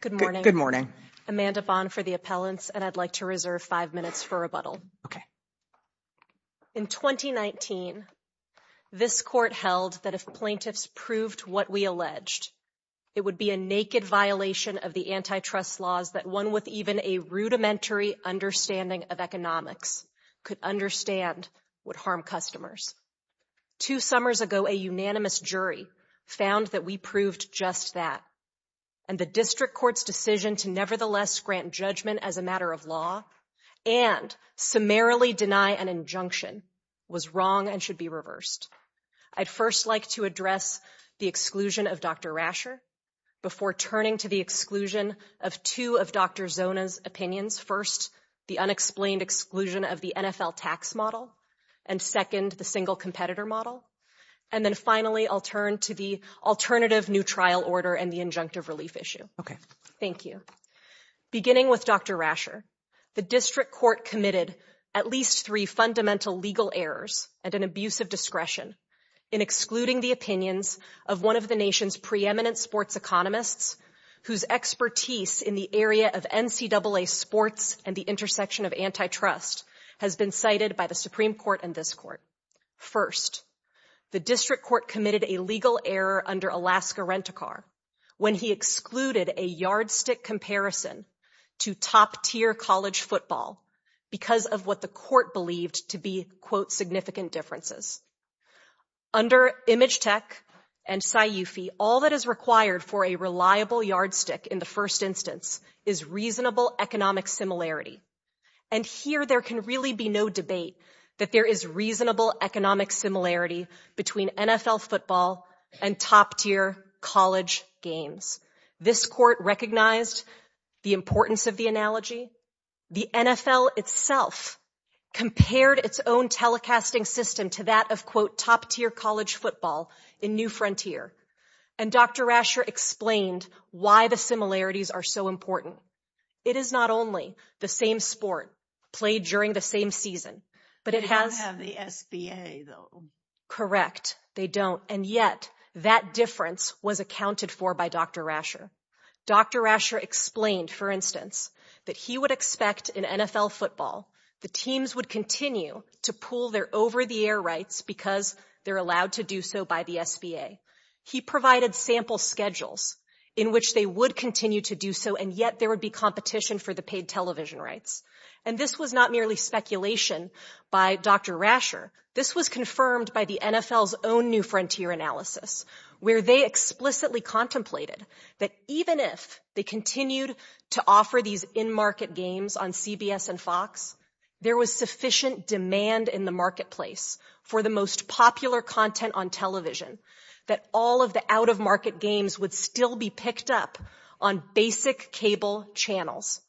Good morning. Amanda Bond for the appellants, and I'd like to reserve five minutes for rebuttal. Okay. In 2019, this court held that if plaintiffs proved what we alleged, it would be a naked violation of the antitrust laws that one with even a rudimentary understanding of economics could understand would harm customers. Two summers ago, a unanimous jury found that we proved just that, and the district court's decision to nevertheless grant judgment as a matter of law and summarily deny an injunction was wrong and should be reversed. I'd first like to address the exclusion of Dr. Rasher before turning to the exclusion of two of Dr. Zona's opinions. First, the unexplained exclusion of the NFL tax model, and second, the single competitor model. And then finally, I'll turn to the alternative new trial order and the injunctive relief issue. Okay. Thank you. Beginning with Dr. Rasher, the district court committed at least three fundamental legal errors and an abuse of discretion in excluding the opinions of one of the nation's preeminent sports economists whose expertise in the area of NCAA sports and the intersection of antitrust has been cited by the Supreme Court and this court. First, the district court committed a legal error under Alaska Rent-A-Car when he excluded a yardstick comparison to top-tier college football because of what the court believed to be, quote, significant differences. Under ImageTech and SciUFI, all that is required for a reliable yardstick in the first instance is reasonable economic similarity. And here there can really be no debate that there is reasonable economic similarity between NFL football and top-tier college games. This court recognized the importance of the analogy. The NFL itself compared its own telecasting system to that of, quote, top-tier college football in New Frontier. And Dr. Rasher explained why the similarities are so important. It is not only the same sport played during the same season, but it has- SBA, though. Correct. They don't. And yet that difference was accounted for by Dr. Rasher. Dr. Rasher explained, for instance, that he would expect in NFL football the teams would continue to pull their over-the-air rights because they're allowed to do so by the SBA. He provided sample schedules in which they would continue to do so, and yet there would be competition for the paid television rights. And this was not merely speculation by Dr. Rasher. This was confirmed by the NFL's own New Frontier analysis, where they explicitly contemplated that even if they continued to offer these in-market games on CBS and Fox, there was sufficient demand in the marketplace for the most popular content on television that all of the out-of-market games would still be picked up on basic cable channels.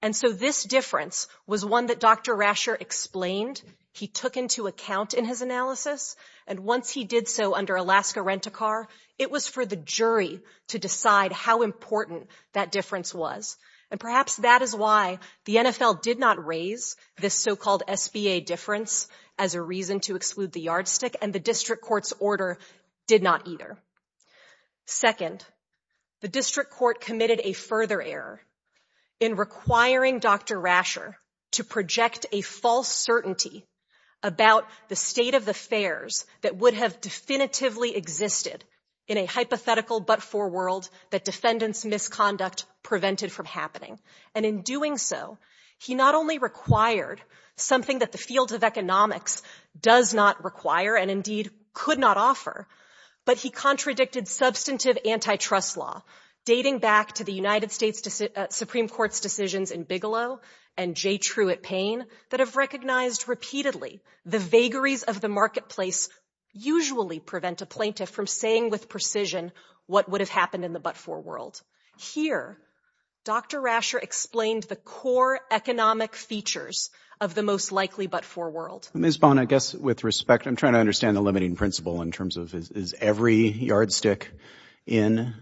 And so this difference was one that Dr. Rasher explained. He took into account in his analysis, and once he did so under Alaska Rent-a-Car, it was for the jury to decide how important that difference was. And perhaps that is why the NFL did not raise this so-called SBA difference as a reason to exclude the yardstick, and the district court's order did not either. Second, the district court committed a further error in requiring Dr. Rasher to project a false certainty about the state of affairs that would have definitively existed in a hypothetical but for world that defendants' misconduct prevented from happening. And in doing so, he not only required something that the field of economics does not require and indeed could not offer, but he contradicted substantive antitrust law dating back to the United States Supreme Court's decisions in Bigelow and J. Truitt Payne that have recognized repeatedly the vagaries of the marketplace usually prevent a plaintiff from saying with precision what would have happened in the but-for world. Here, Dr. Rasher explained the core economic features of the most likely but-for world. Ms. Bonner, I guess with respect, I'm trying to understand the limiting principle in terms of is every yardstick in.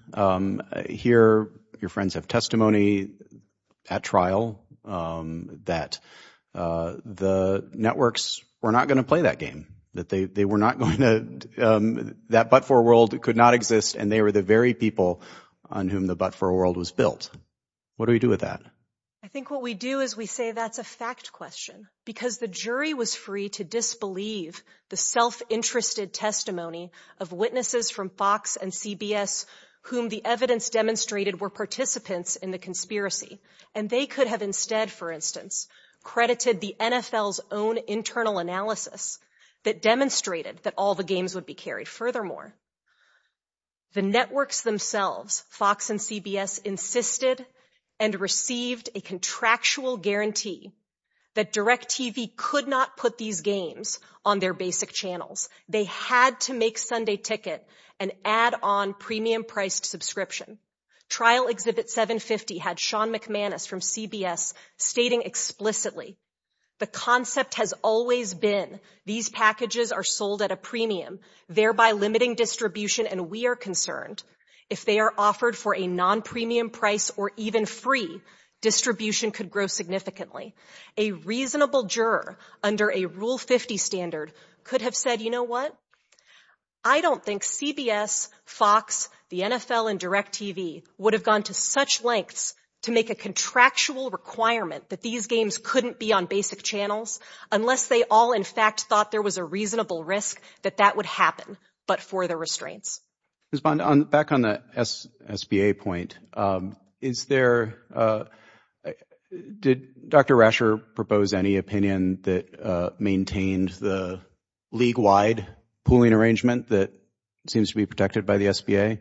Here, your friends have testimony at trial that the networks were not going to play that game, that they were not going to, that but-for world could not exist and they were the very people on whom the but-for world was built. What do we do with that? I think what we do is we say that's a fact question because the jury was free to disbelieve the self-interested testimony of witnesses from Fox and CBS whom the evidence demonstrated were participants in the conspiracy and they could have instead, for instance, credited the NFL's own internal analysis that demonstrated that all the games would be carried. Furthermore, the networks themselves, Fox and CBS, insisted and received a contractual guarantee that DirecTV could not put these games on their basic channels. They had to make Sunday Ticket an add-on premium-priced subscription. Trial Exhibit 750 had Sean McManus from CBS stating explicitly, the concept has always been these packages are sold at a premium, thereby limiting distribution and we are concerned if they are offered for a non-premium price or even free, distribution could grow significantly. A reasonable juror under a Rule 50 standard could have said, you know what? I don't think CBS, Fox, the NFL and DirecTV would have gone to such lengths to make a contractual requirement that these games couldn't be on basic channels unless they all in fact thought there was a reasonable risk that that would happen but for the restraints. Ms. Bond, back on the SBA point, is there, did Dr. Rasher propose any opinion that maintained the league-wide pooling arrangement that seems to be protected by the SBA?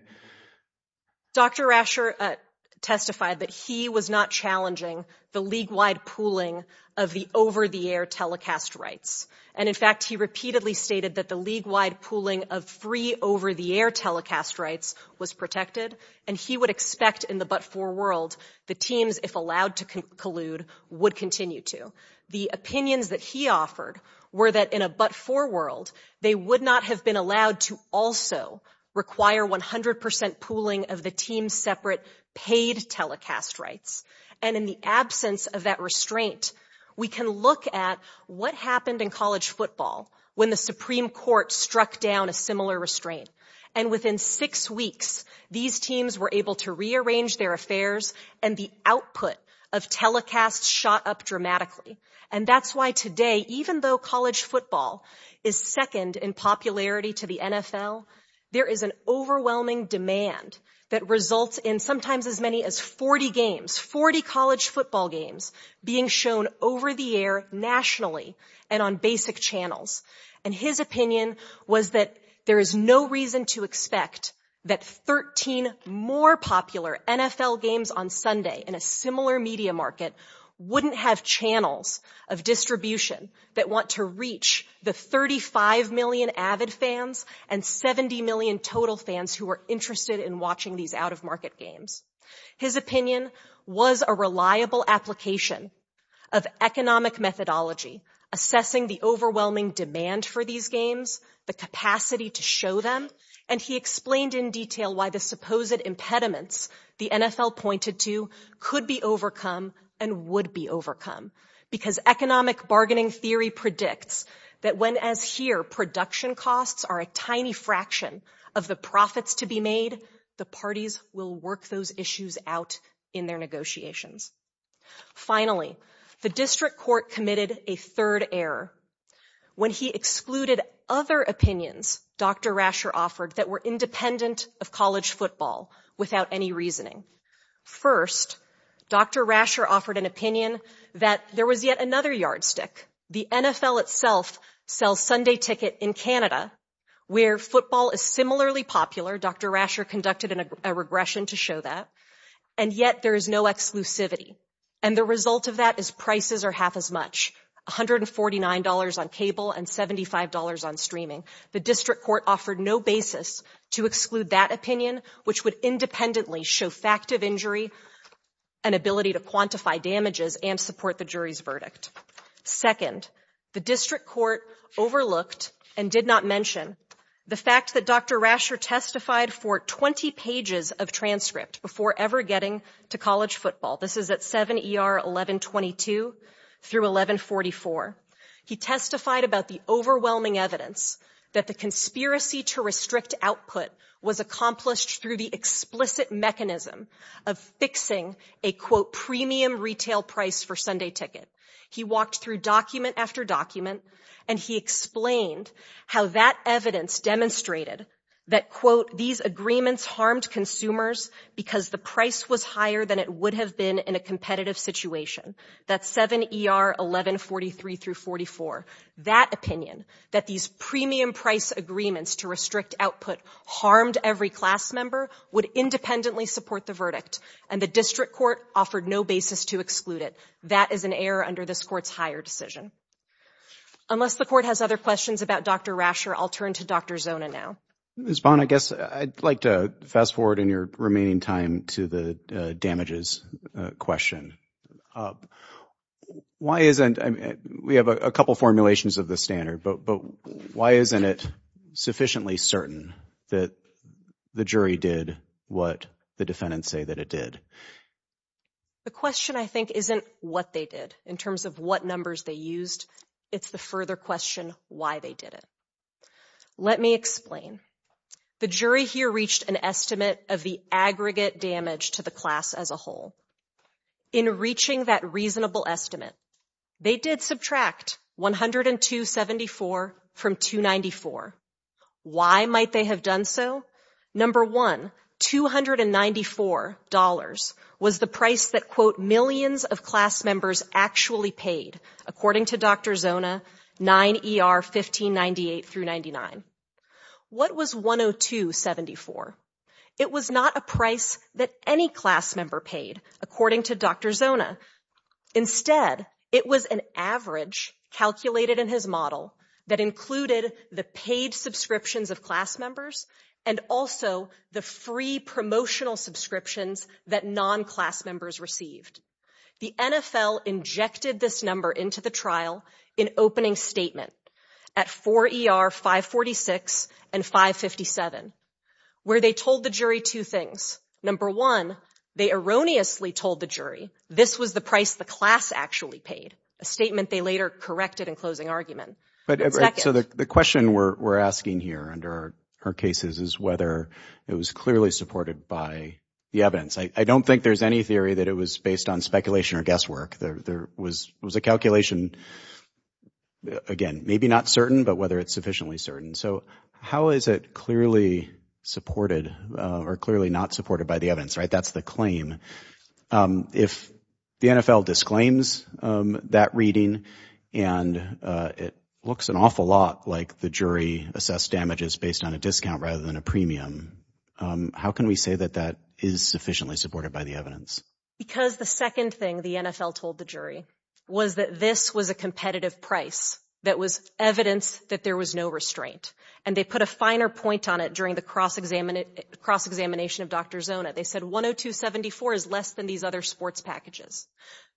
Dr. Rasher testified that he was not challenging the league-wide pooling of the over-the-air telecast rights and in fact, he repeatedly stated that the league-wide pooling of free over-the-air telecast rights was protected and he would expect in the but-for world, the teams, if allowed to collude, would continue to. The opinions that he offered were that in a but-for world, they would not have been allowed to also require 100% pooling of the team's separate paid telecast rights and in the absence of that restraint, we can look at what happened in college and within six weeks, these teams were able to rearrange their affairs and the output of telecast shot up dramatically and that's why today, even though college football is second in popularity to the NFL, there is an overwhelming demand that results in sometimes as many as 40 games, 40 college football games being shown over the air nationally and on basic channels and his opinion was that there is no reason to expect that 13 more popular NFL games on Sunday in a similar media market wouldn't have channels of distribution that want to reach the 35 million avid fans and 70 million total fans who are interested in watching these out-of-market games. His opinion was a reliable application of economic methodology assessing the overwhelming demand for these games, the capacity to show them, and he explained in detail why the supposed impediments the NFL pointed to could be overcome and would be overcome because economic bargaining theory predicts that when, as here, production costs are a tiny fraction of the profits to be made, the parties will work those issues out in their negotiations. Finally, the district court committed a third error when he excluded other opinions Dr. Rasher offered that were independent of college football without any reasoning. First, Dr. Rasher offered an opinion that there was yet another yardstick. The NFL itself sells Sunday ticket in Canada where football is similarly popular. Dr. Rasher conducted a regression to show that and yet there is no exclusivity and the result of that is prices are half as much, $149 on cable and $75 on streaming. The district court offered no basis to exclude that opinion which would independently show fact of injury and ability to quantify damages and support the jury's verdict. Second, the district court overlooked and did not mention the fact that Dr. Rasher testified for 20 pages of transcript before ever getting to college football. This is at 7 ER 1122 through 1144. He testified about the overwhelming evidence that the conspiracy to restrict output was accomplished through the explicit mechanism of fixing a quote premium retail price for Sunday ticket. He walked through document after document and he explained how that evidence demonstrated that quote these agreements harmed consumers because the price was higher than it would have been in a competitive situation. That's 7 ER 1143 through 44. That opinion that these premium price agreements to restrict output harmed every class member would independently support the verdict and the district court offered no basis to exclude it. That is an error under this court's higher decision. Unless the court has other questions about Dr. Rasher, I'll turn to Dr. Zona now. Ms. Bond, I guess I'd like to fast forward in your remaining time to the damages question. Why isn't, I mean we have a couple formulations of the standard, but why isn't it sufficiently certain that the jury did what the defendants say that it did? The question I think isn't what they did in terms of what numbers they used. It's the further question why they did it. Let me explain. The jury here reached an estimate of the aggregate damage to the class as a whole. In reaching that reasonable estimate, they did subtract 102 74 from 294. Why might they have done so? Number one, 294 dollars was the price that millions of class members actually paid according to Dr. Zona 9 ER 1598 through 99. What was 102 74? It was not a price that any class member paid according to Dr. Zona. Instead, it was an average calculated in his model that included the paid subscriptions of class members and also the free promotional subscriptions that non-class members received. The NFL injected this number into the trial in opening statement at 4 ER 546 and 557 where they told the jury two things. Number one, they erroneously told the jury this was the price the class actually paid. A statement they later corrected in closing argument. But so the question we're asking here under her cases is whether it was clearly supported by the evidence. I don't think there's any theory that it was based on speculation or guesswork. There was a calculation, again, maybe not certain, but whether it's sufficiently certain. So how is it clearly supported or clearly not supported by the evidence, right? That's the claim. Um, if the NFL disclaims, um, that reading and, uh, it looks an awful lot like the jury assessed damages based on a discount rather than a premium. Um, how can we say that that is sufficiently supported by the evidence? Because the second thing the NFL told the jury was that this was a competitive price that was evidence that there was no restraint and they put finer point on it during the cross examine it cross examination of Dr Zona. They said 102 74 is less than these other sports packages.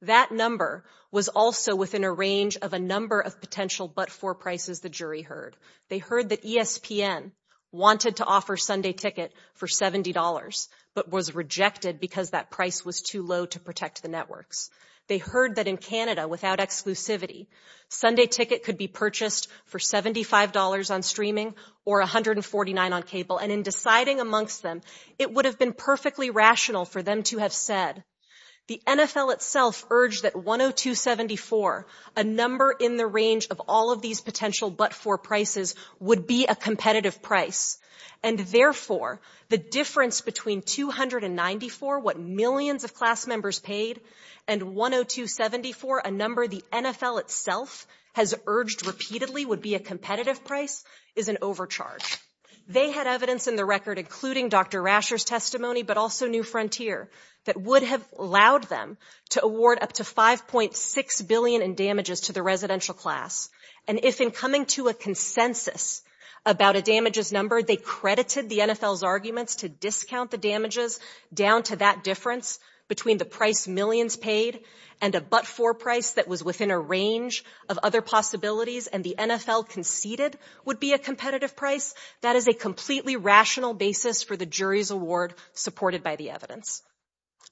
That number was also within a range of a number of potential. But for prices, the jury heard they heard that ESPN wanted to offer Sunday ticket for $70 but was rejected because that price was too low to protect the networks. They heard that in Canada without exclusivity, Sunday ticket could be purchased for $75 on streaming or 149 on cable. And in deciding amongst them, it would have been perfectly rational for them to have said the NFL itself urged that 102 74 a number in the range of all of these potential but for prices would be a competitive price and therefore the difference between 294 what millions of class members paid and 102 74 a number the NFL itself has urged repeatedly would be a competitive price is an overcharge. They had evidence in the record including Dr Rasher's testimony but also new frontier that would have allowed them to award up to 5.6 billion in damages to the residential class. And if in coming to a consensus about a damages number, they credited the NFL's arguments to discount the damages down to that difference between the price millions paid and a but for price that was within a range of other possibilities and the NFL conceded would be a competitive price. That is a completely rational basis for the jury's award supported by the evidence.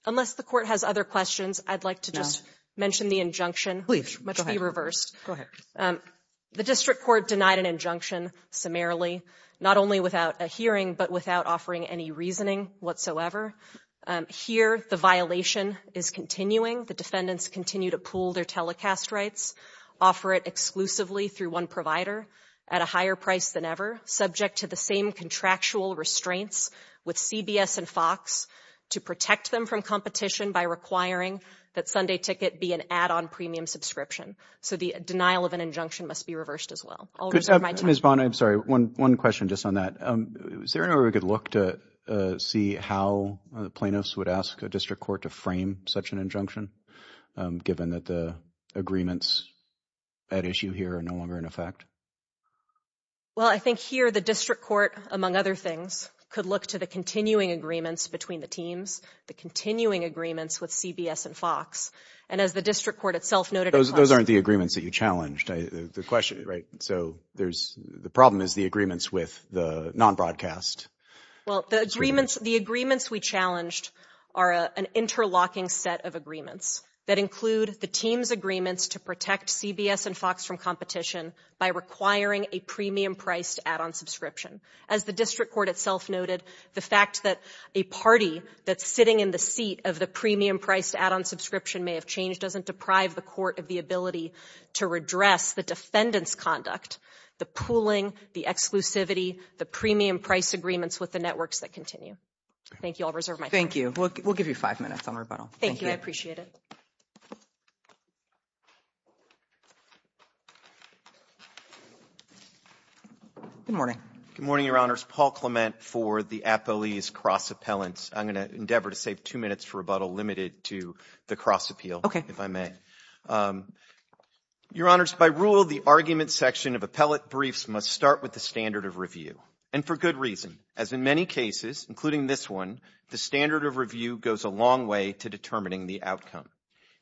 Unless the court has other questions, I'd like to just mention the injunction, which might be reversed. The district court denied an injunction summarily, not only without a hearing but without offering any reasoning whatsoever. Here, the violation is continuing. The defendants continue to pool their telecast rights, offer it exclusively through one provider at a higher price than ever, subject to the same contractual restraints with CBS and Fox to protect them from competition by requiring that Sunday ticket be an add-on premium subscription. So the denial of an injunction must be reversed as well. Ms. Bonner, I'm sorry, one question just on that. Is there a possibility that plaintiffs would ask a district court to frame such an injunction, given that the agreements at issue here are no longer in effect? Well, I think here the district court, among other things, could look to the continuing agreements between the teams, the continuing agreements with CBS and Fox, and as the district court itself noted... Those aren't the agreements that you challenged, right? So the problem is the agreements we challenged are an interlocking set of agreements that include the team's agreements to protect CBS and Fox from competition by requiring a premium-priced add-on subscription. As the district court itself noted, the fact that a party that's sitting in the seat of the premium-priced add-on subscription may have changed doesn't deprive the court of the ability to redress the defendant's conduct, the pooling, the exclusivity, the premium-priced agreements with the networks that continue. Thank you. I'll reserve my time. Thank you. We'll give you five minutes on rebuttal. Thank you. I appreciate it. Good morning. Good morning, Your Honors. Paul Clement for the Appellees Cross-Appellants. I'm going to endeavor to save two minutes for rebuttal limited to the cross-appeal, if I may. Your Honors, by rule, the argument section of appellate briefs must start with the standard of review. And for good reason, as in many cases, including this one, the standard of review goes a long way to determining the outcome.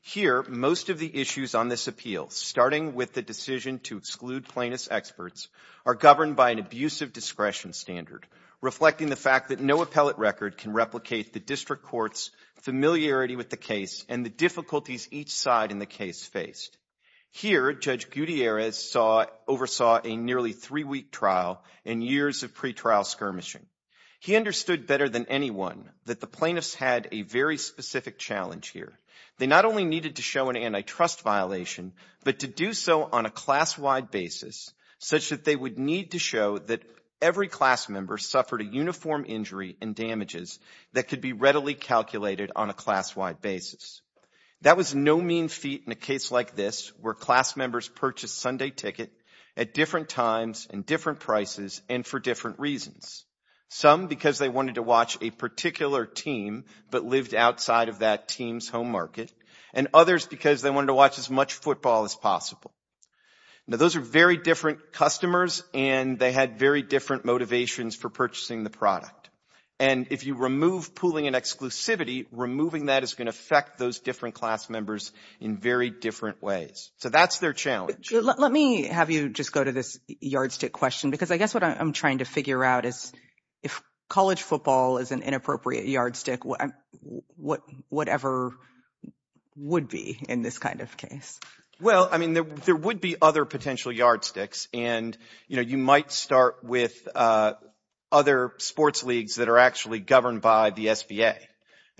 Here, most of the issues on this appeal, starting with the decision to exclude plaintiff's experts, are governed by an abusive discretion standard, reflecting the fact that no appellate record can replicate the district court's familiarity with the case and the difficulties each side in the case faced. Here, Judge Gutierrez oversaw a nearly three-week trial and years of pretrial skirmishing. He understood better than anyone that the plaintiffs had a very specific challenge here. They not only needed to show an antitrust violation, but to do so on a class-wide basis, such that they would need to show that every class member suffered a uniform injury and damages that could be readily calculated on a class-wide basis. That was no mean feat in a case like this, where class members purchased Sunday Ticket at different times and different prices and for different reasons. Some because they wanted to watch a particular team but lived outside of that team's home market, and others because they wanted to watch as much football as possible. Now, those are very different customers, and they had very different motivations for purchasing the product. And if you remove pooling and exclusivity, removing that is going to affect those different class members in very different ways. So that's their challenge. Let me have you just go to this yardstick question, because I guess what I'm trying to figure out is, if college football is an inappropriate yardstick, whatever would be in this kind of case? Well, I mean, there would be other potential yardsticks. And, you know, you might start with other sports leagues that are actually governed by the SBA.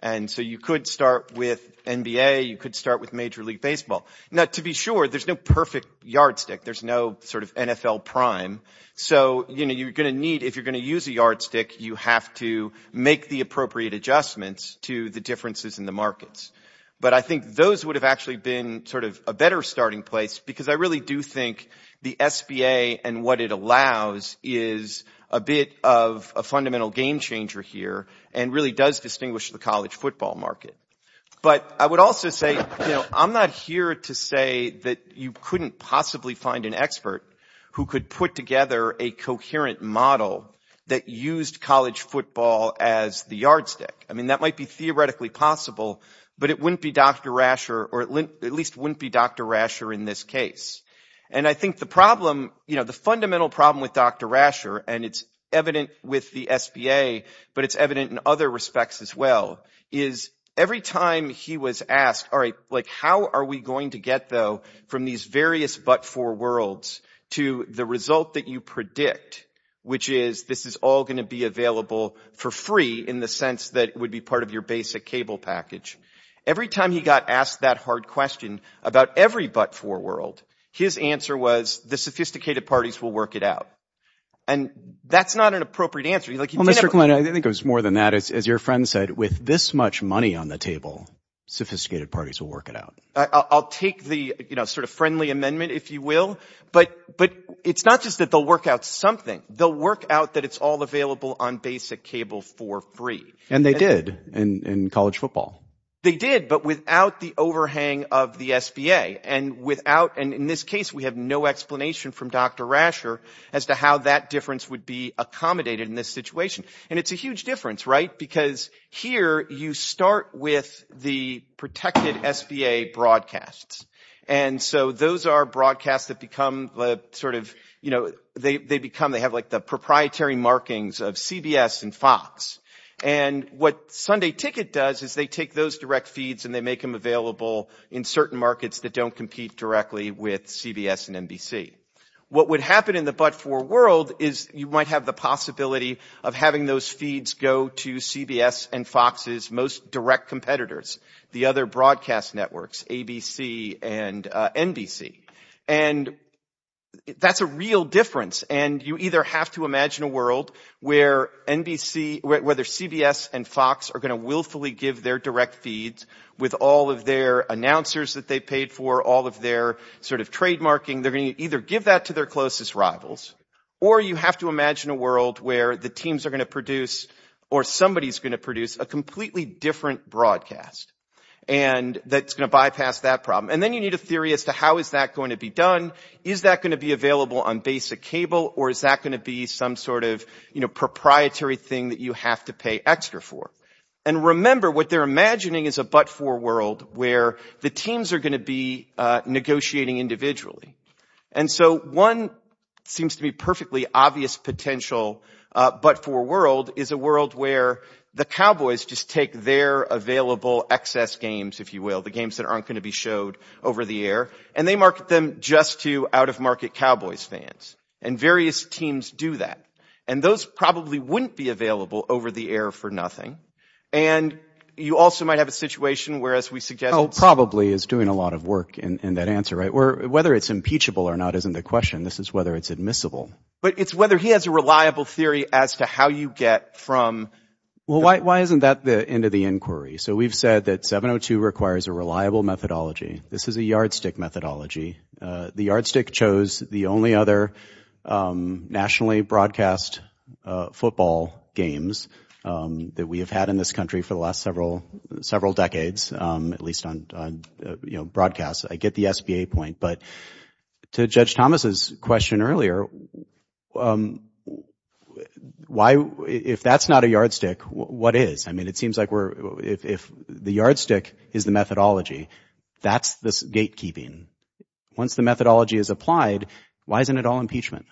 And so you could start with NBA, you could start with Major League Baseball. Now, to be sure, there's no perfect yardstick. There's no sort of NFL prime. So, you know, you're going to need, if you're going to use a yardstick, you have to make the appropriate adjustments to the differences in the markets. But I think those would have actually been sort of a better starting place, because I really do think the SBA and what it allows is a bit of a fundamental game changer here and really does distinguish the college football market. But I would also say, you know, I'm not here to say that you couldn't possibly find an expert who could put together a coherent model that used college football as the yardstick. I mean, that might be theoretically possible, but it wouldn't be Dr. Rasher or at least wouldn't be Dr. Rasher in this case. And I think the problem, you know, the fundamental problem with Dr. Rasher, and it's evident with the SBA, but it's evident in other respects as well, is every time he was asked, all right, like, how are we going to get, though, from these various but-for worlds to the result that you predict, which is this is all going to be available for free in the sense that it would be part of your basic cable package. Every time he got asked that hard question about every but-for world, his answer was the sophisticated parties will work it out. And that's not an appropriate answer. Well, Mr. Klein, I think it was more than that. As your friend said, with this much money on the table, sophisticated parties will work it out. I'll take the sort of friendly amendment, if you will. But it's not just that they'll work out something. They'll work out that it's all available on basic cable for free. And they did in college football. They did, but without the overhang of the SBA. And in this case, we have no explanation from Dr. Rasher as to how that difference would be accommodated in this situation. And it's a huge difference, right? Because here you start with the protected SBA broadcasts. And so those are broadcasts that have the proprietary markings of CBS and Fox. And what Sunday Ticket does is they take those direct feeds and they make them available in certain markets that don't compete directly with CBS and NBC. What would happen in the but-for world is you might have the possibility of having those feeds go to CBS and Fox's most direct competitors, the other broadcast networks, ABC and NBC. And that's a real difference. And you either have to imagine a world where NBC, whether CBS and Fox are going to willfully give their direct feeds with all of their announcers that they paid for, all of their sort of trademarking. They're going to either give that to their closest rivals or you have to imagine a world where the teams are going to produce or somebody's going to produce a completely different broadcast that's going to bypass that problem. And then you need a theory as to how is that going to be done. Is that going to be available on basic cable or is that going to be some sort of proprietary thing that you have to pay extra for? And remember, what they're imagining is a but-for world where the teams are going to be negotiating individually. And so one seems to be perfectly obvious potential but-for world is a world where the Cowboys just take their available excess games, if you will, the games that aren't going to be showed over the air, and they market them just to out-of-market Cowboys fans. And various teams do that. And those probably wouldn't be available over the air for nothing. And you also might have a situation where, as we suggest... Probably is doing a lot of work in that answer, right? Whether it's impeachable or not isn't the question. This is whether it's admissible. But it's whether he has a reliable theory as to how you get from... Well, why isn't that the end of the inquiry? So we've said that 702 requires a reliable methodology. This is a yardstick methodology. The yardstick chose the only other nationally broadcast football games that we have had in this country for the last several decades, at least on broadcast. I get the SBA point. But to Judge Thomas's question earlier, if that's not a yardstick, what is? I mean, it seems like if the yardstick is the methodology, that's the gatekeeping. Once the methodology is applied, why isn't it all impeachment?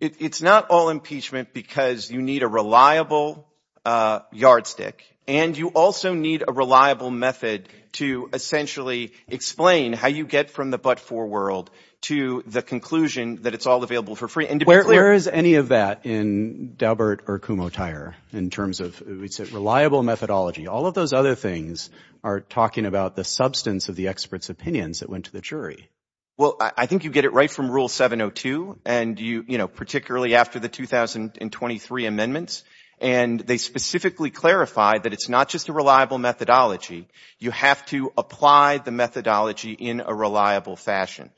It's not all impeachment because you need a reliable yardstick and you also need a reliable method to essentially explain how you get from the but-for world to the conclusion that it's all available for free. Where is any of that in Daubert or Kumho-Tyre in terms of it's a reliable methodology? All of those other things are talking about the substance of the experts' opinions that went to the jury. Well, I think you get it right from Rule 702, particularly after the 2023 amendments. And they specifically clarified that it's not just a reliable methodology. You have to apply the methodology in a reliable fashion.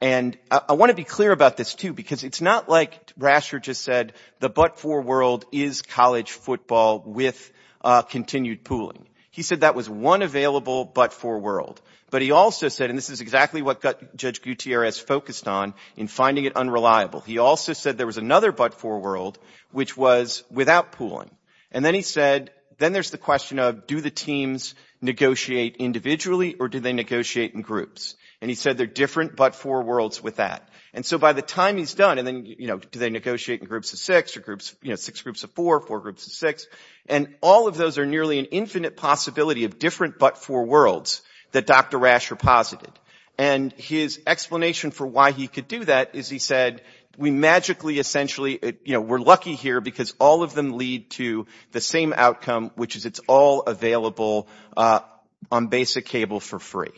And I want to be clear about this, too, because it's not like Rascher just said the but-for world is college football with continued pooling. He said that was one available but-for world. But he also said, and this is exactly what Judge Gutierrez focused on in finding it unreliable, he also said there was another but-for world which was without pooling. And then he said, then there's the question of do the teams negotiate individually or do they negotiate in groups? And he said they're different but-for worlds with that. And so by the time he's done and then, you know, do they negotiate in groups of six or groups, you know, six groups of four, four groups of six, and all of those are nearly an infinite possibility of different but-for worlds that Dr. Rascher posited. And his explanation for why he could do that is he said we magically essentially, you know, we're lucky here because all of them lead to the same outcome, which is it's all available on basic cable for free.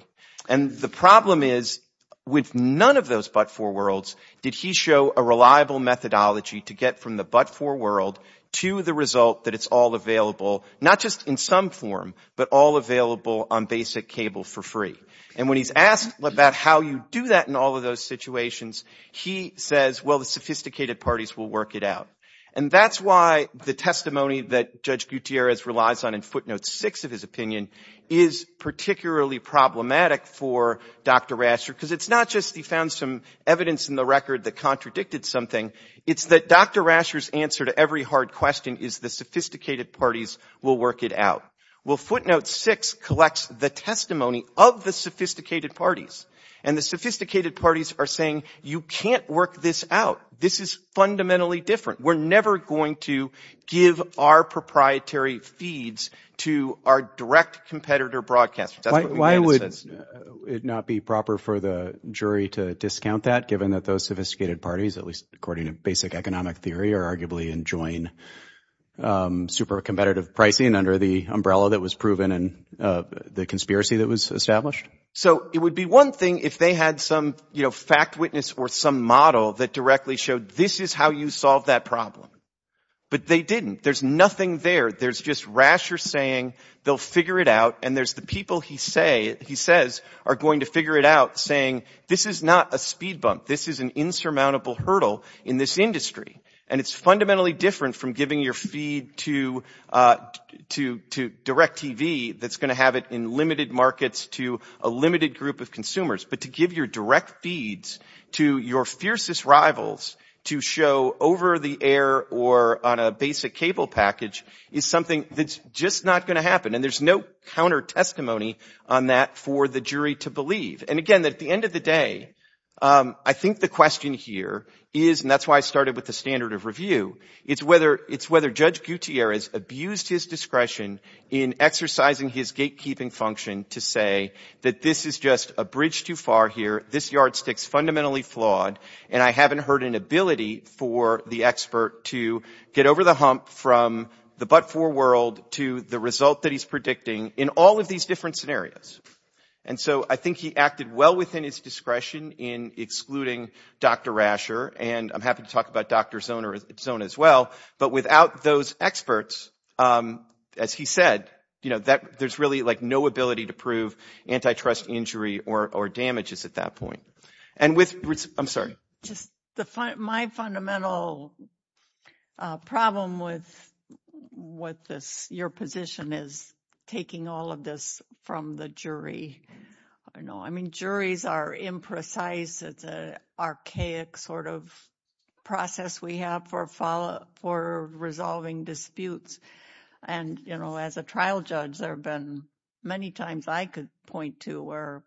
And the problem is with none of those but-for worlds did he show a reliable methodology to get from the but-for world to the result that it's all available, not just in some form, but all available on basic cable for free. And when he's asked about how you do that in all of those situations, he says, well, the sophisticated parties will work it out. And that's why the testimony that Judge Gutierrez relies on in footnote six of his opinion is particularly problematic for Dr. Rascher, because it's not just he found some evidence in the record that contradicted something, it's that Dr. Rascher's answer to every hard question is the sophisticated parties will work it out. Well, footnote six collects the testimony of the sophisticated parties, and the sophisticated parties are saying you can't work this out. This is fundamentally different. We're never going to give our proprietary feeds to our direct competitor broadcasters. That's what he says. Why would it not be proper for the jury to discount that, given that those sophisticated basic economic theory are arguably enjoying super competitive pricing under the umbrella that was proven and the conspiracy that was established? So it would be one thing if they had some fact witness or some model that directly showed this is how you solve that problem. But they didn't. There's nothing there. There's just Rascher saying they'll figure it out. And there's the people he says are going to figure it out, saying this is not a speed bump. This is an insurmountable hurdle in this industry. And it's fundamentally different from giving your feed to direct TV that's going to have it in limited markets to a limited group of consumers. But to give your direct feeds to your fiercest rivals to show over the air or on a basic cable package is something that's just not going to happen. And there's no counter testimony on that for the jury to believe. And again, at the end of the day, I think the question here is, and that's why I started with the standard of review, it's whether Judge Gutierrez abused his discretion in exercising his gatekeeping function to say that this is just a bridge too far here, this yardstick's fundamentally flawed, and I haven't heard an ability for the expert to get over the hump from the but-for world to the result that he's predicting in all of these different scenarios. And so I think he acted well within his discretion in excluding Dr. Rasher, and I'm happy to talk about Dr. Zona as well, but without those experts, as he said, you know, there's really like no ability to prove antitrust injury or damages at that point. And with, I'm sorry. Just the, my fundamental problem with what this, your position is taking all of this from the jury. I know, I mean, juries are imprecise. It's an archaic sort of process we have for resolving disputes. And, you know, as a trial judge, there have been many times I could point to where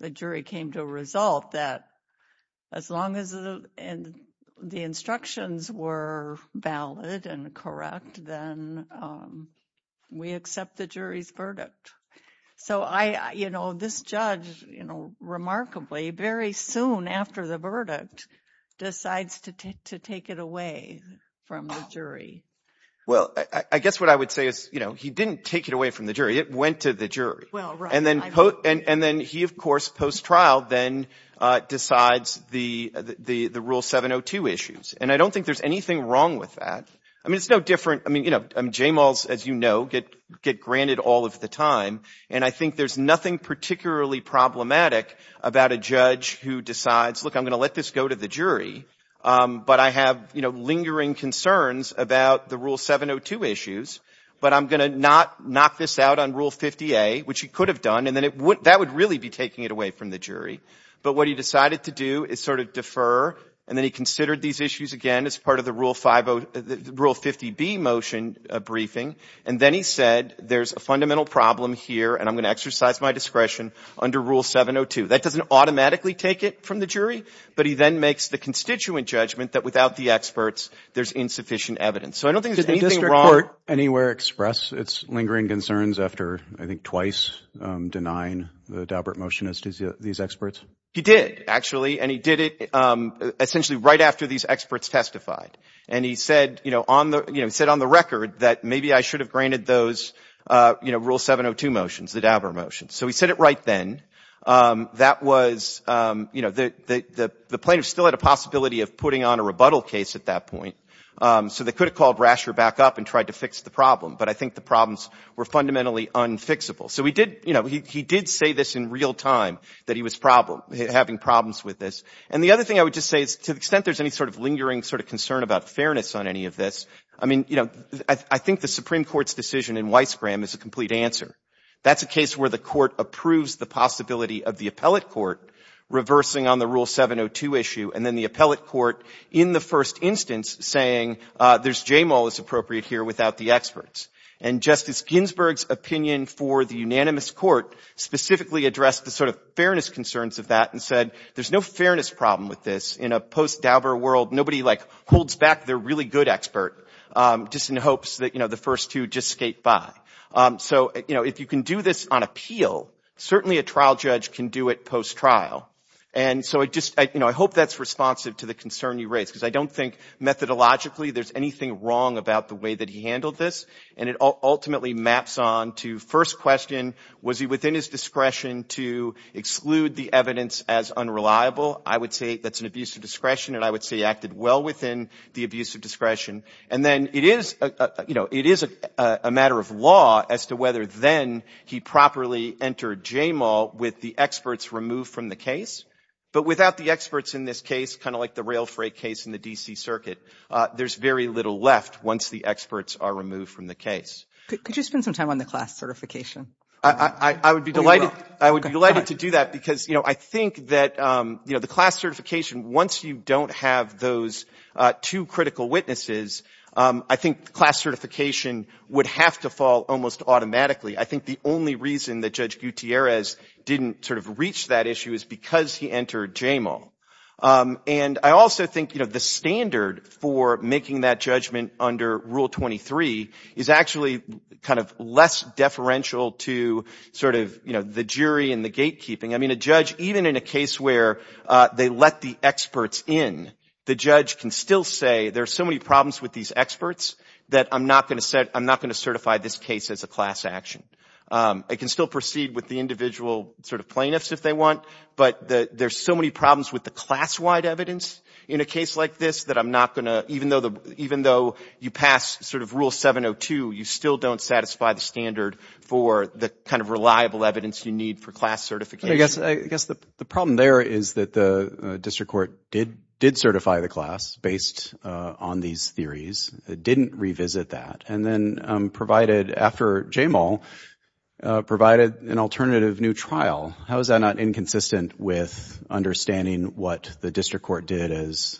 the jury came to a result that as long as the instructions were valid and correct, then we accept the jury's verdict. So I, you know, this judge, you know, remarkably very soon after the verdict decides to take it away from the jury. Well, I guess what I would say is, you know, he didn't take it away from the jury. It went to the jury. Well, right. And then he, of course, post-trial then decides the Rule 702 issues. And I don't think there's anything wrong with that. I mean, it's no different. I mean, you know, JMALs, as you know, get granted all of the time. And I think there's nothing particularly problematic about a judge who decides, look, I'm going to let this go to the jury, but I have, you know, lingering concerns about the Rule 702 issues, but I'm going to not knock this out on Rule 50A, which he could have done. And then that would really be taking it away from the jury. But what he decided to do is sort of defer. And then he considered these issues again as part of the Rule 50B motion briefing. And then he said, there's a fundamental problem here, and I'm going to exercise my discretion under Rule 702. That doesn't automatically take it from the jury, but he then makes the constituent judgment that without the experts, there's insufficient evidence. So I don't think there's anything wrong. Did the district court anywhere express its lingering concerns after, I think, twice denying the Daubert motion to these experts? He did, actually. And he did it essentially right after these experts testified. And he said, you know, on the, you know, he said on the record that maybe I should have granted those, you know, Rule 702 motions, the Daubert motions. So he said it right then. That was, you know, the plaintiff still had a possibility of putting on a rebuttal case at that point. So they could have called Rasher back up and tried to fix the problem. But I think the problems were fundamentally unfixable. So he did, you know, he did say this in real time, that he was having problems with this. And the other thing I would just say is, to the extent there's any sort of lingering sort of concern about fairness on any of this, I mean, you know, I think the Supreme Court's decision in Weissgram is a complete answer. That's a case where the court approves the possibility of the appellate court reversing on the Rule 702 issue, and then the appellate court, in the first instance, saying there's JMOL is appropriate here without the experts. And Justice Ginsburg's opinion for the unanimous court specifically addressed the sort of fairness concerns of that and said, there's no fairness problem with this. In a post-Daubert world, nobody, like, holds back their really good expert just in hopes that, you know, the first two just by. So, you know, if you can do this on appeal, certainly a trial judge can do it post-trial. And so I just, you know, I hope that's responsive to the concern you raise, because I don't think methodologically there's anything wrong about the way that he handled this. And it ultimately maps on to first question, was he within his discretion to exclude the evidence as unreliable? I would say that's an abuse of discretion, and I would say he acted well within the abuse of discretion. And then it is, you know, it is a matter of law as to whether then he properly entered JMOL with the experts removed from the case. But without the experts in this case, kind of like the rail freight case in the D.C. Circuit, there's very little left once the experts are removed from the case. Could you spend some time on the class certification? I would be delighted. I would be delighted to do that, because, you know, I think that, you know, the class certification would have to fall almost automatically. I think the only reason that Judge Gutierrez didn't sort of reach that issue is because he entered JMOL. And I also think, you know, the standard for making that judgment under Rule 23 is actually kind of less deferential to sort of, you know, the jury and the gatekeeping. I mean, a judge, even in a case where they let the experts in, the judge can still say there's so many problems with these experts that I'm not going to certify this case as a class action. It can still proceed with the individual sort of plaintiffs if they want, but there's so many problems with the class-wide evidence in a case like this that I'm not going to, even though you pass sort of Rule 702, you still don't satisfy the standard for the kind of reliable evidence you need for class certification. I guess the problem there is that the district court did certify the class based on these theories, didn't revisit that, and then provided, after JMOL, provided an alternative new trial. How is that not inconsistent with understanding what the district court did as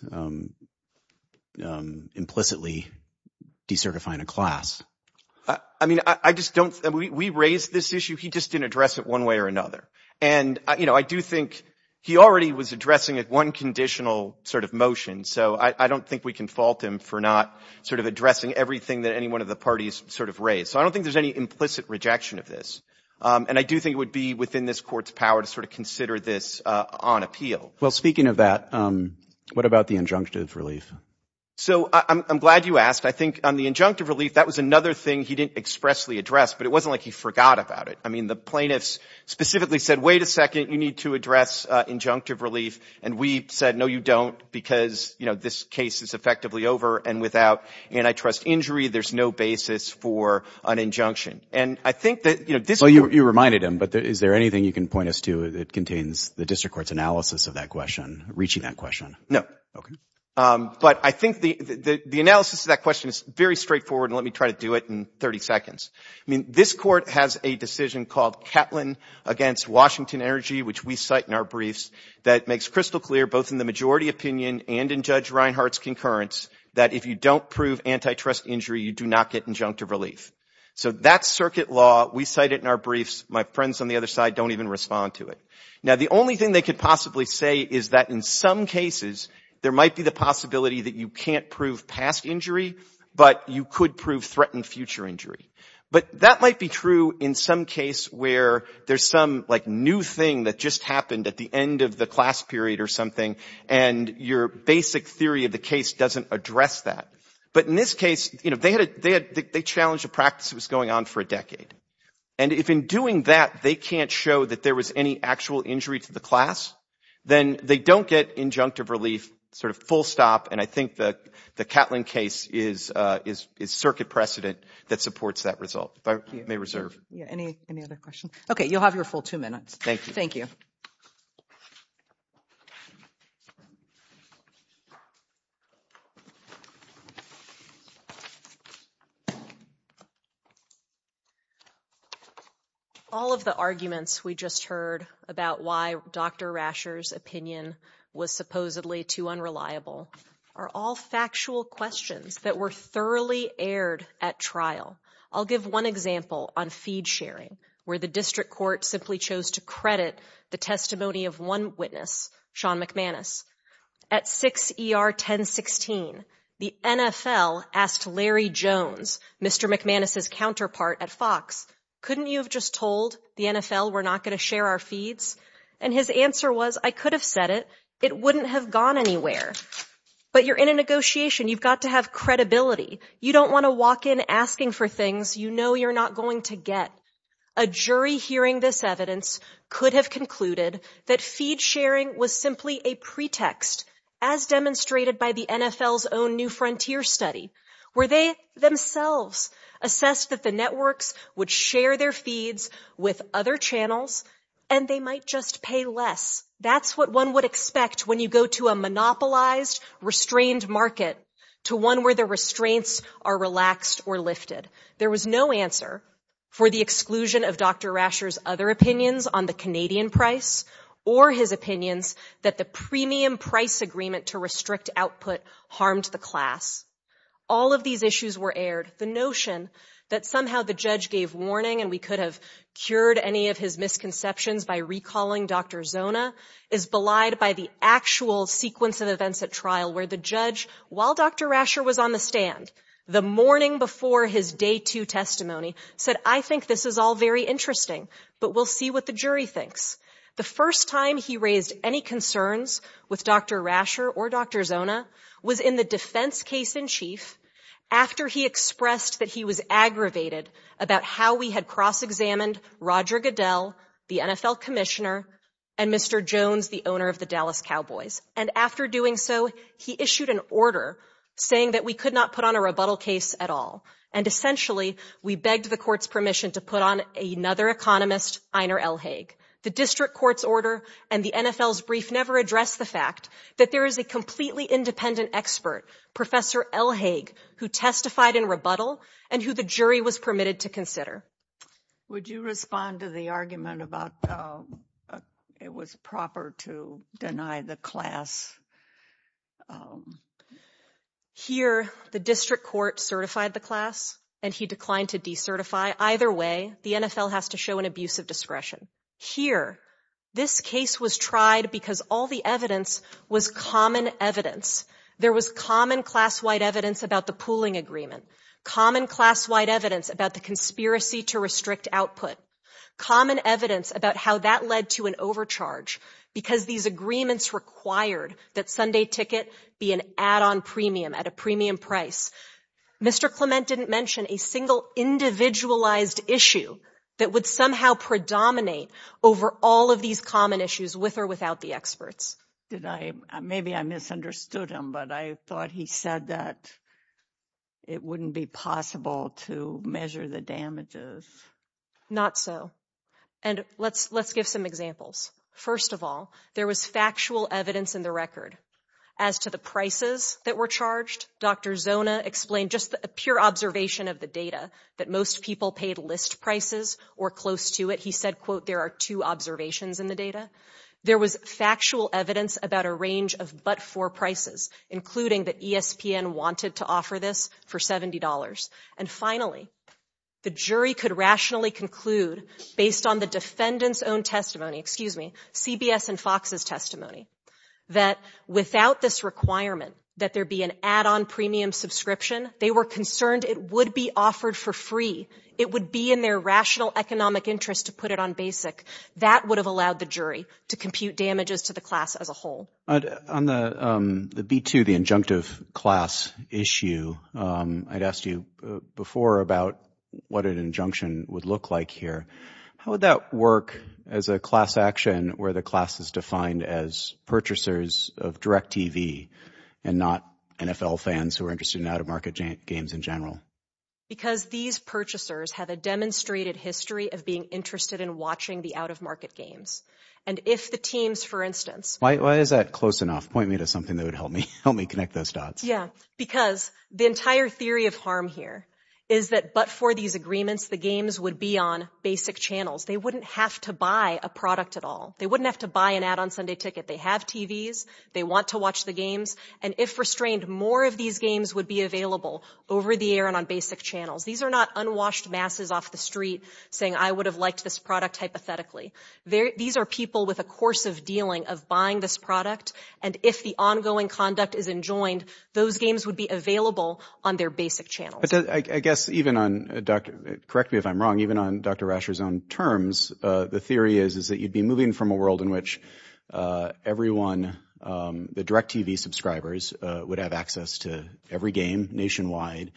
implicitly decertifying a class? I mean, I just don't, we raised this issue, he just didn't address it one way or another. And, you know, I do think he already was addressing it one conditional sort of motion, so I don't think we can fault him for not sort of addressing everything that any one of the parties sort of raised. So I don't think there's any implicit rejection of this, and I do think it would be within this court's power to sort of consider this on appeal. Well, speaking of that, what about the injunctive relief? So I'm glad you asked. I think on the injunctive relief, that was another thing he didn't expressly address, but it wasn't like he forgot about it. I mean, the plaintiffs specifically said, wait a second, you need to address injunctive relief, and we said, no, you don't, because, you know, this case is effectively over and without antitrust injury, there's no basis for an injunction. And I think that, you know, this court... Well, you reminded him, but is there anything you can point us to that contains the district court's analysis of that question, reaching that question? No. Okay. But I think the analysis of that question is very straightforward, and let me try to do it in 30 against Washington Energy, which we cite in our briefs, that makes crystal clear, both in the majority opinion and in Judge Reinhardt's concurrence, that if you don't prove antitrust injury, you do not get injunctive relief. So that's circuit law. We cite it in our briefs. My friends on the other side don't even respond to it. Now, the only thing they could possibly say is that in some cases, there might be the possibility that you can't prove past injury, but you could prove threatened future injury. But that might be true in some case where there's some, like, new thing that just happened at the end of the class period or something, and your basic theory of the case doesn't address that. But in this case, you know, they challenged a practice that was going on for a decade. And if in doing that, they can't show that there was any actual injury to the class, then they don't get injunctive relief sort of full stop, and I think the Catlin case is circuit precedent that supports that result, if I may reserve. Yeah. Any other questions? Okay. You'll have your full two minutes. Thank you. Thank you. All of the arguments we just heard about why Dr. Rasher's opinion was supposedly too unreliable are all factual questions that were thoroughly aired at trial. I'll give one example on feed sharing where the district court simply chose to credit the testimony of one witness, Sean McManus. At 6 ER 1016, the NFL asked Larry Jones, Mr. McManus's counterpart at Fox, couldn't you have just told the NFL we're not going to share our feeds? And his answer was, I could have said it, it wouldn't have gone anywhere. But you're in a negotiation, you've got to have credibility. You don't want to walk in asking for things you know you're not going to get. A jury hearing this evidence could have concluded that feed sharing was simply a pretext, as demonstrated by the NFL's own new frontier study, where they themselves assessed that networks would share their feeds with other channels and they might just pay less. That's what one would expect when you go to a monopolized, restrained market to one where the restraints are relaxed or lifted. There was no answer for the exclusion of Dr. Rasher's other opinions on the Canadian price or his opinions that the premium price agreement to restrict output harmed the class. All of these issues were aired. The notion that somehow the judge gave warning and we could have cured any of his misconceptions by recalling Dr. Zona is belied by the actual sequence of events at trial where the judge, while Dr. Rasher was on the stand, the morning before his day two testimony, said, I think this is all very interesting, but we'll see what the jury thinks. The first time he raised any concerns with Dr. Rasher or Dr. Zona was in the defense case in chief after he expressed that he was aggravated about how we had cross-examined Roger Goodell, the NFL commissioner, and Mr. Jones, the owner of the Dallas Cowboys. And after doing so, he issued an order saying that we could not put on a rebuttal case at all. And essentially, we begged the court's permission to put on another economist, Einer Elhag. The district court's order and the NFL's brief never addressed the fact that there is a completely independent expert, Professor Elhag, who testified in rebuttal and who the jury was permitted to consider. Would you respond to the argument about it was proper to deny the class? Here, the district court certified the class and he declined to decertify. Either way, the NFL has to show an abuse of discretion. Here, this case was tried because all the evidence was common evidence. There was common class-wide evidence about the pooling agreement, common class-wide evidence about the conspiracy to restrict output, common evidence about how that led to an overcharge because these agreements required that Sunday ticket be an add-on premium at a premium price. Mr. Clement didn't mention a single individualized issue that would somehow predominate over all of these common issues with or without the experts. Maybe I misunderstood him, but I thought he said that it wouldn't be possible to measure the damages. Not so. And let's give some examples. First of all, there was factual evidence in the record. As to the prices that were charged, Dr. Zona explained just a pure observation of the data that most people paid list prices or close to it. He said, quote, there are two observations in the data. There was factual evidence about a range of but-for prices, including that ESPN wanted to offer this for $70. And finally, the jury could rationally conclude, based on the defendant's own testimony, excuse me, CBS and Fox's testimony, that without this requirement that there be an add-on premium subscription, they were concerned it would be offered for free. It would be in their rational economic interest to put it on basic. That would have allowed the jury to compute damages to the class as a whole. On the B-2, the injunctive class issue, I'd asked you before about what an injunction would look like here. How would that work as a class action where the class is defined as purchasers of DirecTV and not NFL fans who are interested in out-of-market games in general? Because these purchasers have a demonstrated history of being interested in watching the out-of-market games. And if the teams, for instance— Why is that close enough? Point me to something that would help me connect those dots. Yeah, because the entire theory of harm here is that but-for these agreements, the games would be on basic channels. They wouldn't have to buy a product at all. They wouldn't have to buy an add-on Sunday ticket. They have TVs. They want to watch the games. And if restrained, more of these games would be available over the air and on basic channels. These are not unwashed masses off the street saying, I would have liked this product hypothetically. These are people with a course of dealing, of buying this product. And if the ongoing conduct is enjoined, those games would be available on their basic channels. I guess even on—correct me if I'm wrong— even on Dr. Rasher's own terms, the theory is that you'd be moving from a world in which everyone, the DirecTV subscribers, would have access to every game nationwide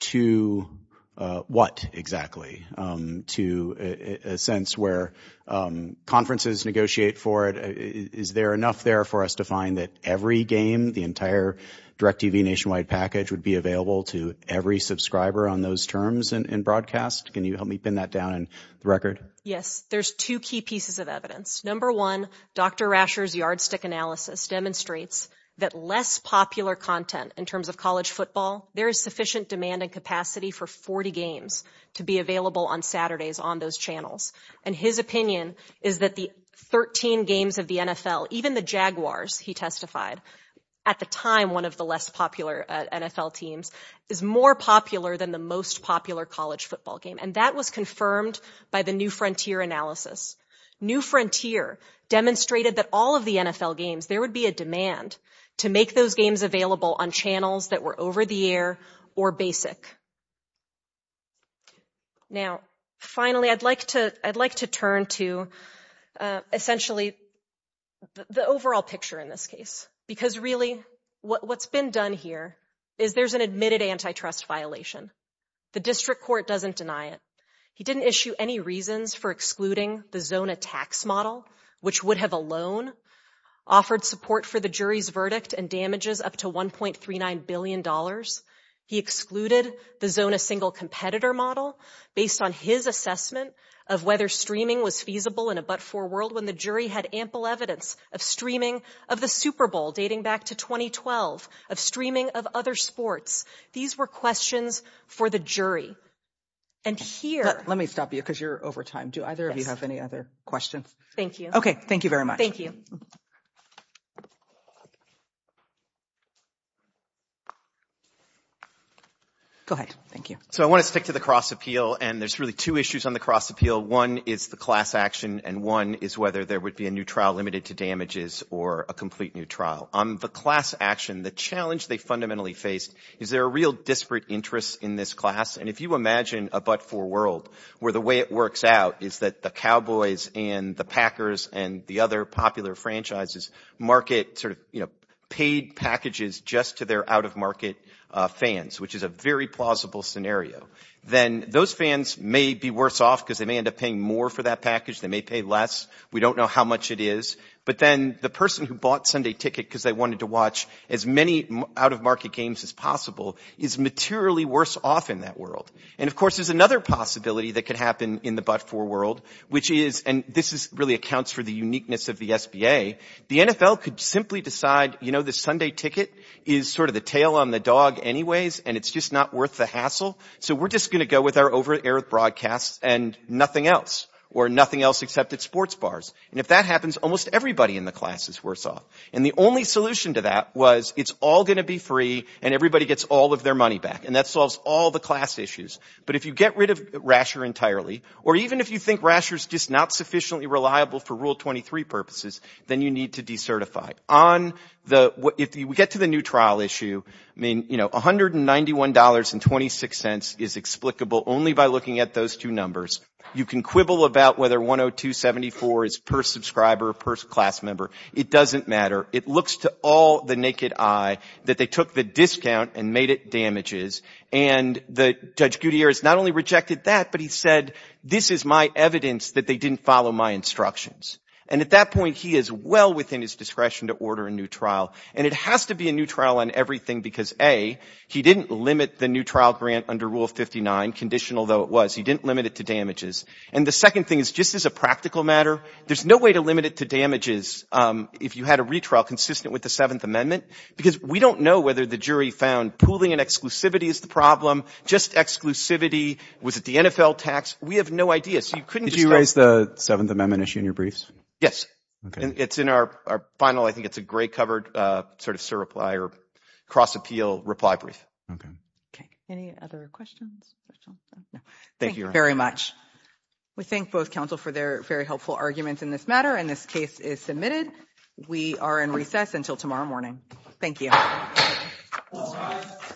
to what exactly? To a sense where conferences negotiate for it. Is there enough there for us to find that every game, the entire DirecTV nationwide package, would be available to every subscriber on those terms and broadcast? Can you help me pin that down in the record? Yes. There's two key pieces of evidence. Number one, Dr. Rasher's yardstick analysis demonstrates that less popular content in terms of college football, there is sufficient demand and capacity for 40 games to be available on Saturdays on those channels. And his opinion is that the 13 games of the NFL, even the Jaguars, he testified, at the time one of the less popular NFL teams, is more popular than the most popular college football game. And that was confirmed by the New Frontier analysis. New Frontier demonstrated that all of the NFL games, there would be a demand to make those games available on channels that were over the air or basic. Now, finally, I'd like to turn to essentially the overall picture in this case. Because really, what's been done here is there's an admitted antitrust violation. The district court doesn't deny it. He didn't issue any reasons for excluding the Zona tax model, which would have alone offered support for the jury's verdict and damages up to $1.39 billion. He excluded the Zona single competitor model based on his assessment of whether streaming was feasible in a but-for world when the jury had ample evidence of streaming of the Super Bowl dating back to 2012, of streaming of other sports. These were questions for the jury. And here... Let me stop you because you're over time. Do either of you have any other questions? Thank you. Okay, thank you very much. Thank you. Go ahead. Thank you. So I want to stick to the cross appeal. And there's really two issues on the cross appeal. One is the class action. And one is whether there would be a new trial limited to damages or a complete new trial. On the class action, the challenge they fundamentally faced is there are real disparate interests in this class. And if you imagine a but-for world where the way it works out is that the Cowboys and the Packers and the other popular franchises market sort of paid packages just to their out-of-market fans, which is a very plausible scenario. Then those fans may be worse off because they may end up paying more for that package. They may pay less. We don't know how much it is. But then the person who bought Sunday Ticket because they wanted to watch as many out-of-market games as possible is materially worse off in that world. And of course, there's another possibility that could happen in the but-for world, which is, and this really accounts for the uniqueness of the SBA. The NFL could simply decide, you know, the Sunday Ticket is sort of the tail on the dog anyways, and it's just not worth the hassle. So we're just going to go with our over-air broadcasts and nothing else or nothing else except at sports bars. And if that happens, almost everybody in the class is worse off. And the only solution to that was it's all going to be free and everybody gets all of their money back. And that solves all the class issues. But if you get rid of Rasher entirely, or even if you think Rasher's just not sufficiently reliable for Rule 23 purposes, then you need to decertify. On the, if we get to the new trial issue, I mean, you know, $191.26 is explicable only by looking at those two numbers. You can quibble about whether 102.74 is per subscriber, per class member. It doesn't matter. It looks to all the naked eye that they took the discount and made it damages. And Judge Gutierrez not only rejected that, but he said, this is my evidence that they didn't follow my instructions. And at that point, he is well within his discretion to order a new trial. And it has to be a new trial on everything because A, he didn't limit the new trial grant under Rule 59, conditional though it was, he didn't limit it to damages. And the second thing is just as a practical matter, there's no way to limit it to damages if you had a retrial consistent with the Seventh Amendment, because we don't know whether the jury found pooling and exclusivity is the problem, just exclusivity. Was it the NFL tax? We have no idea. So you couldn't just tell. Did you raise the Seventh Amendment issue in your briefs? Yes. Okay. It's in our final, I think it's a gray covered sort of surreply or cross appeal reply brief. Okay. Okay. Any other questions? Thank you very much. We thank both counsel for their very helpful arguments in this matter. And this case is submitted. We are in recess until tomorrow morning. Thank you.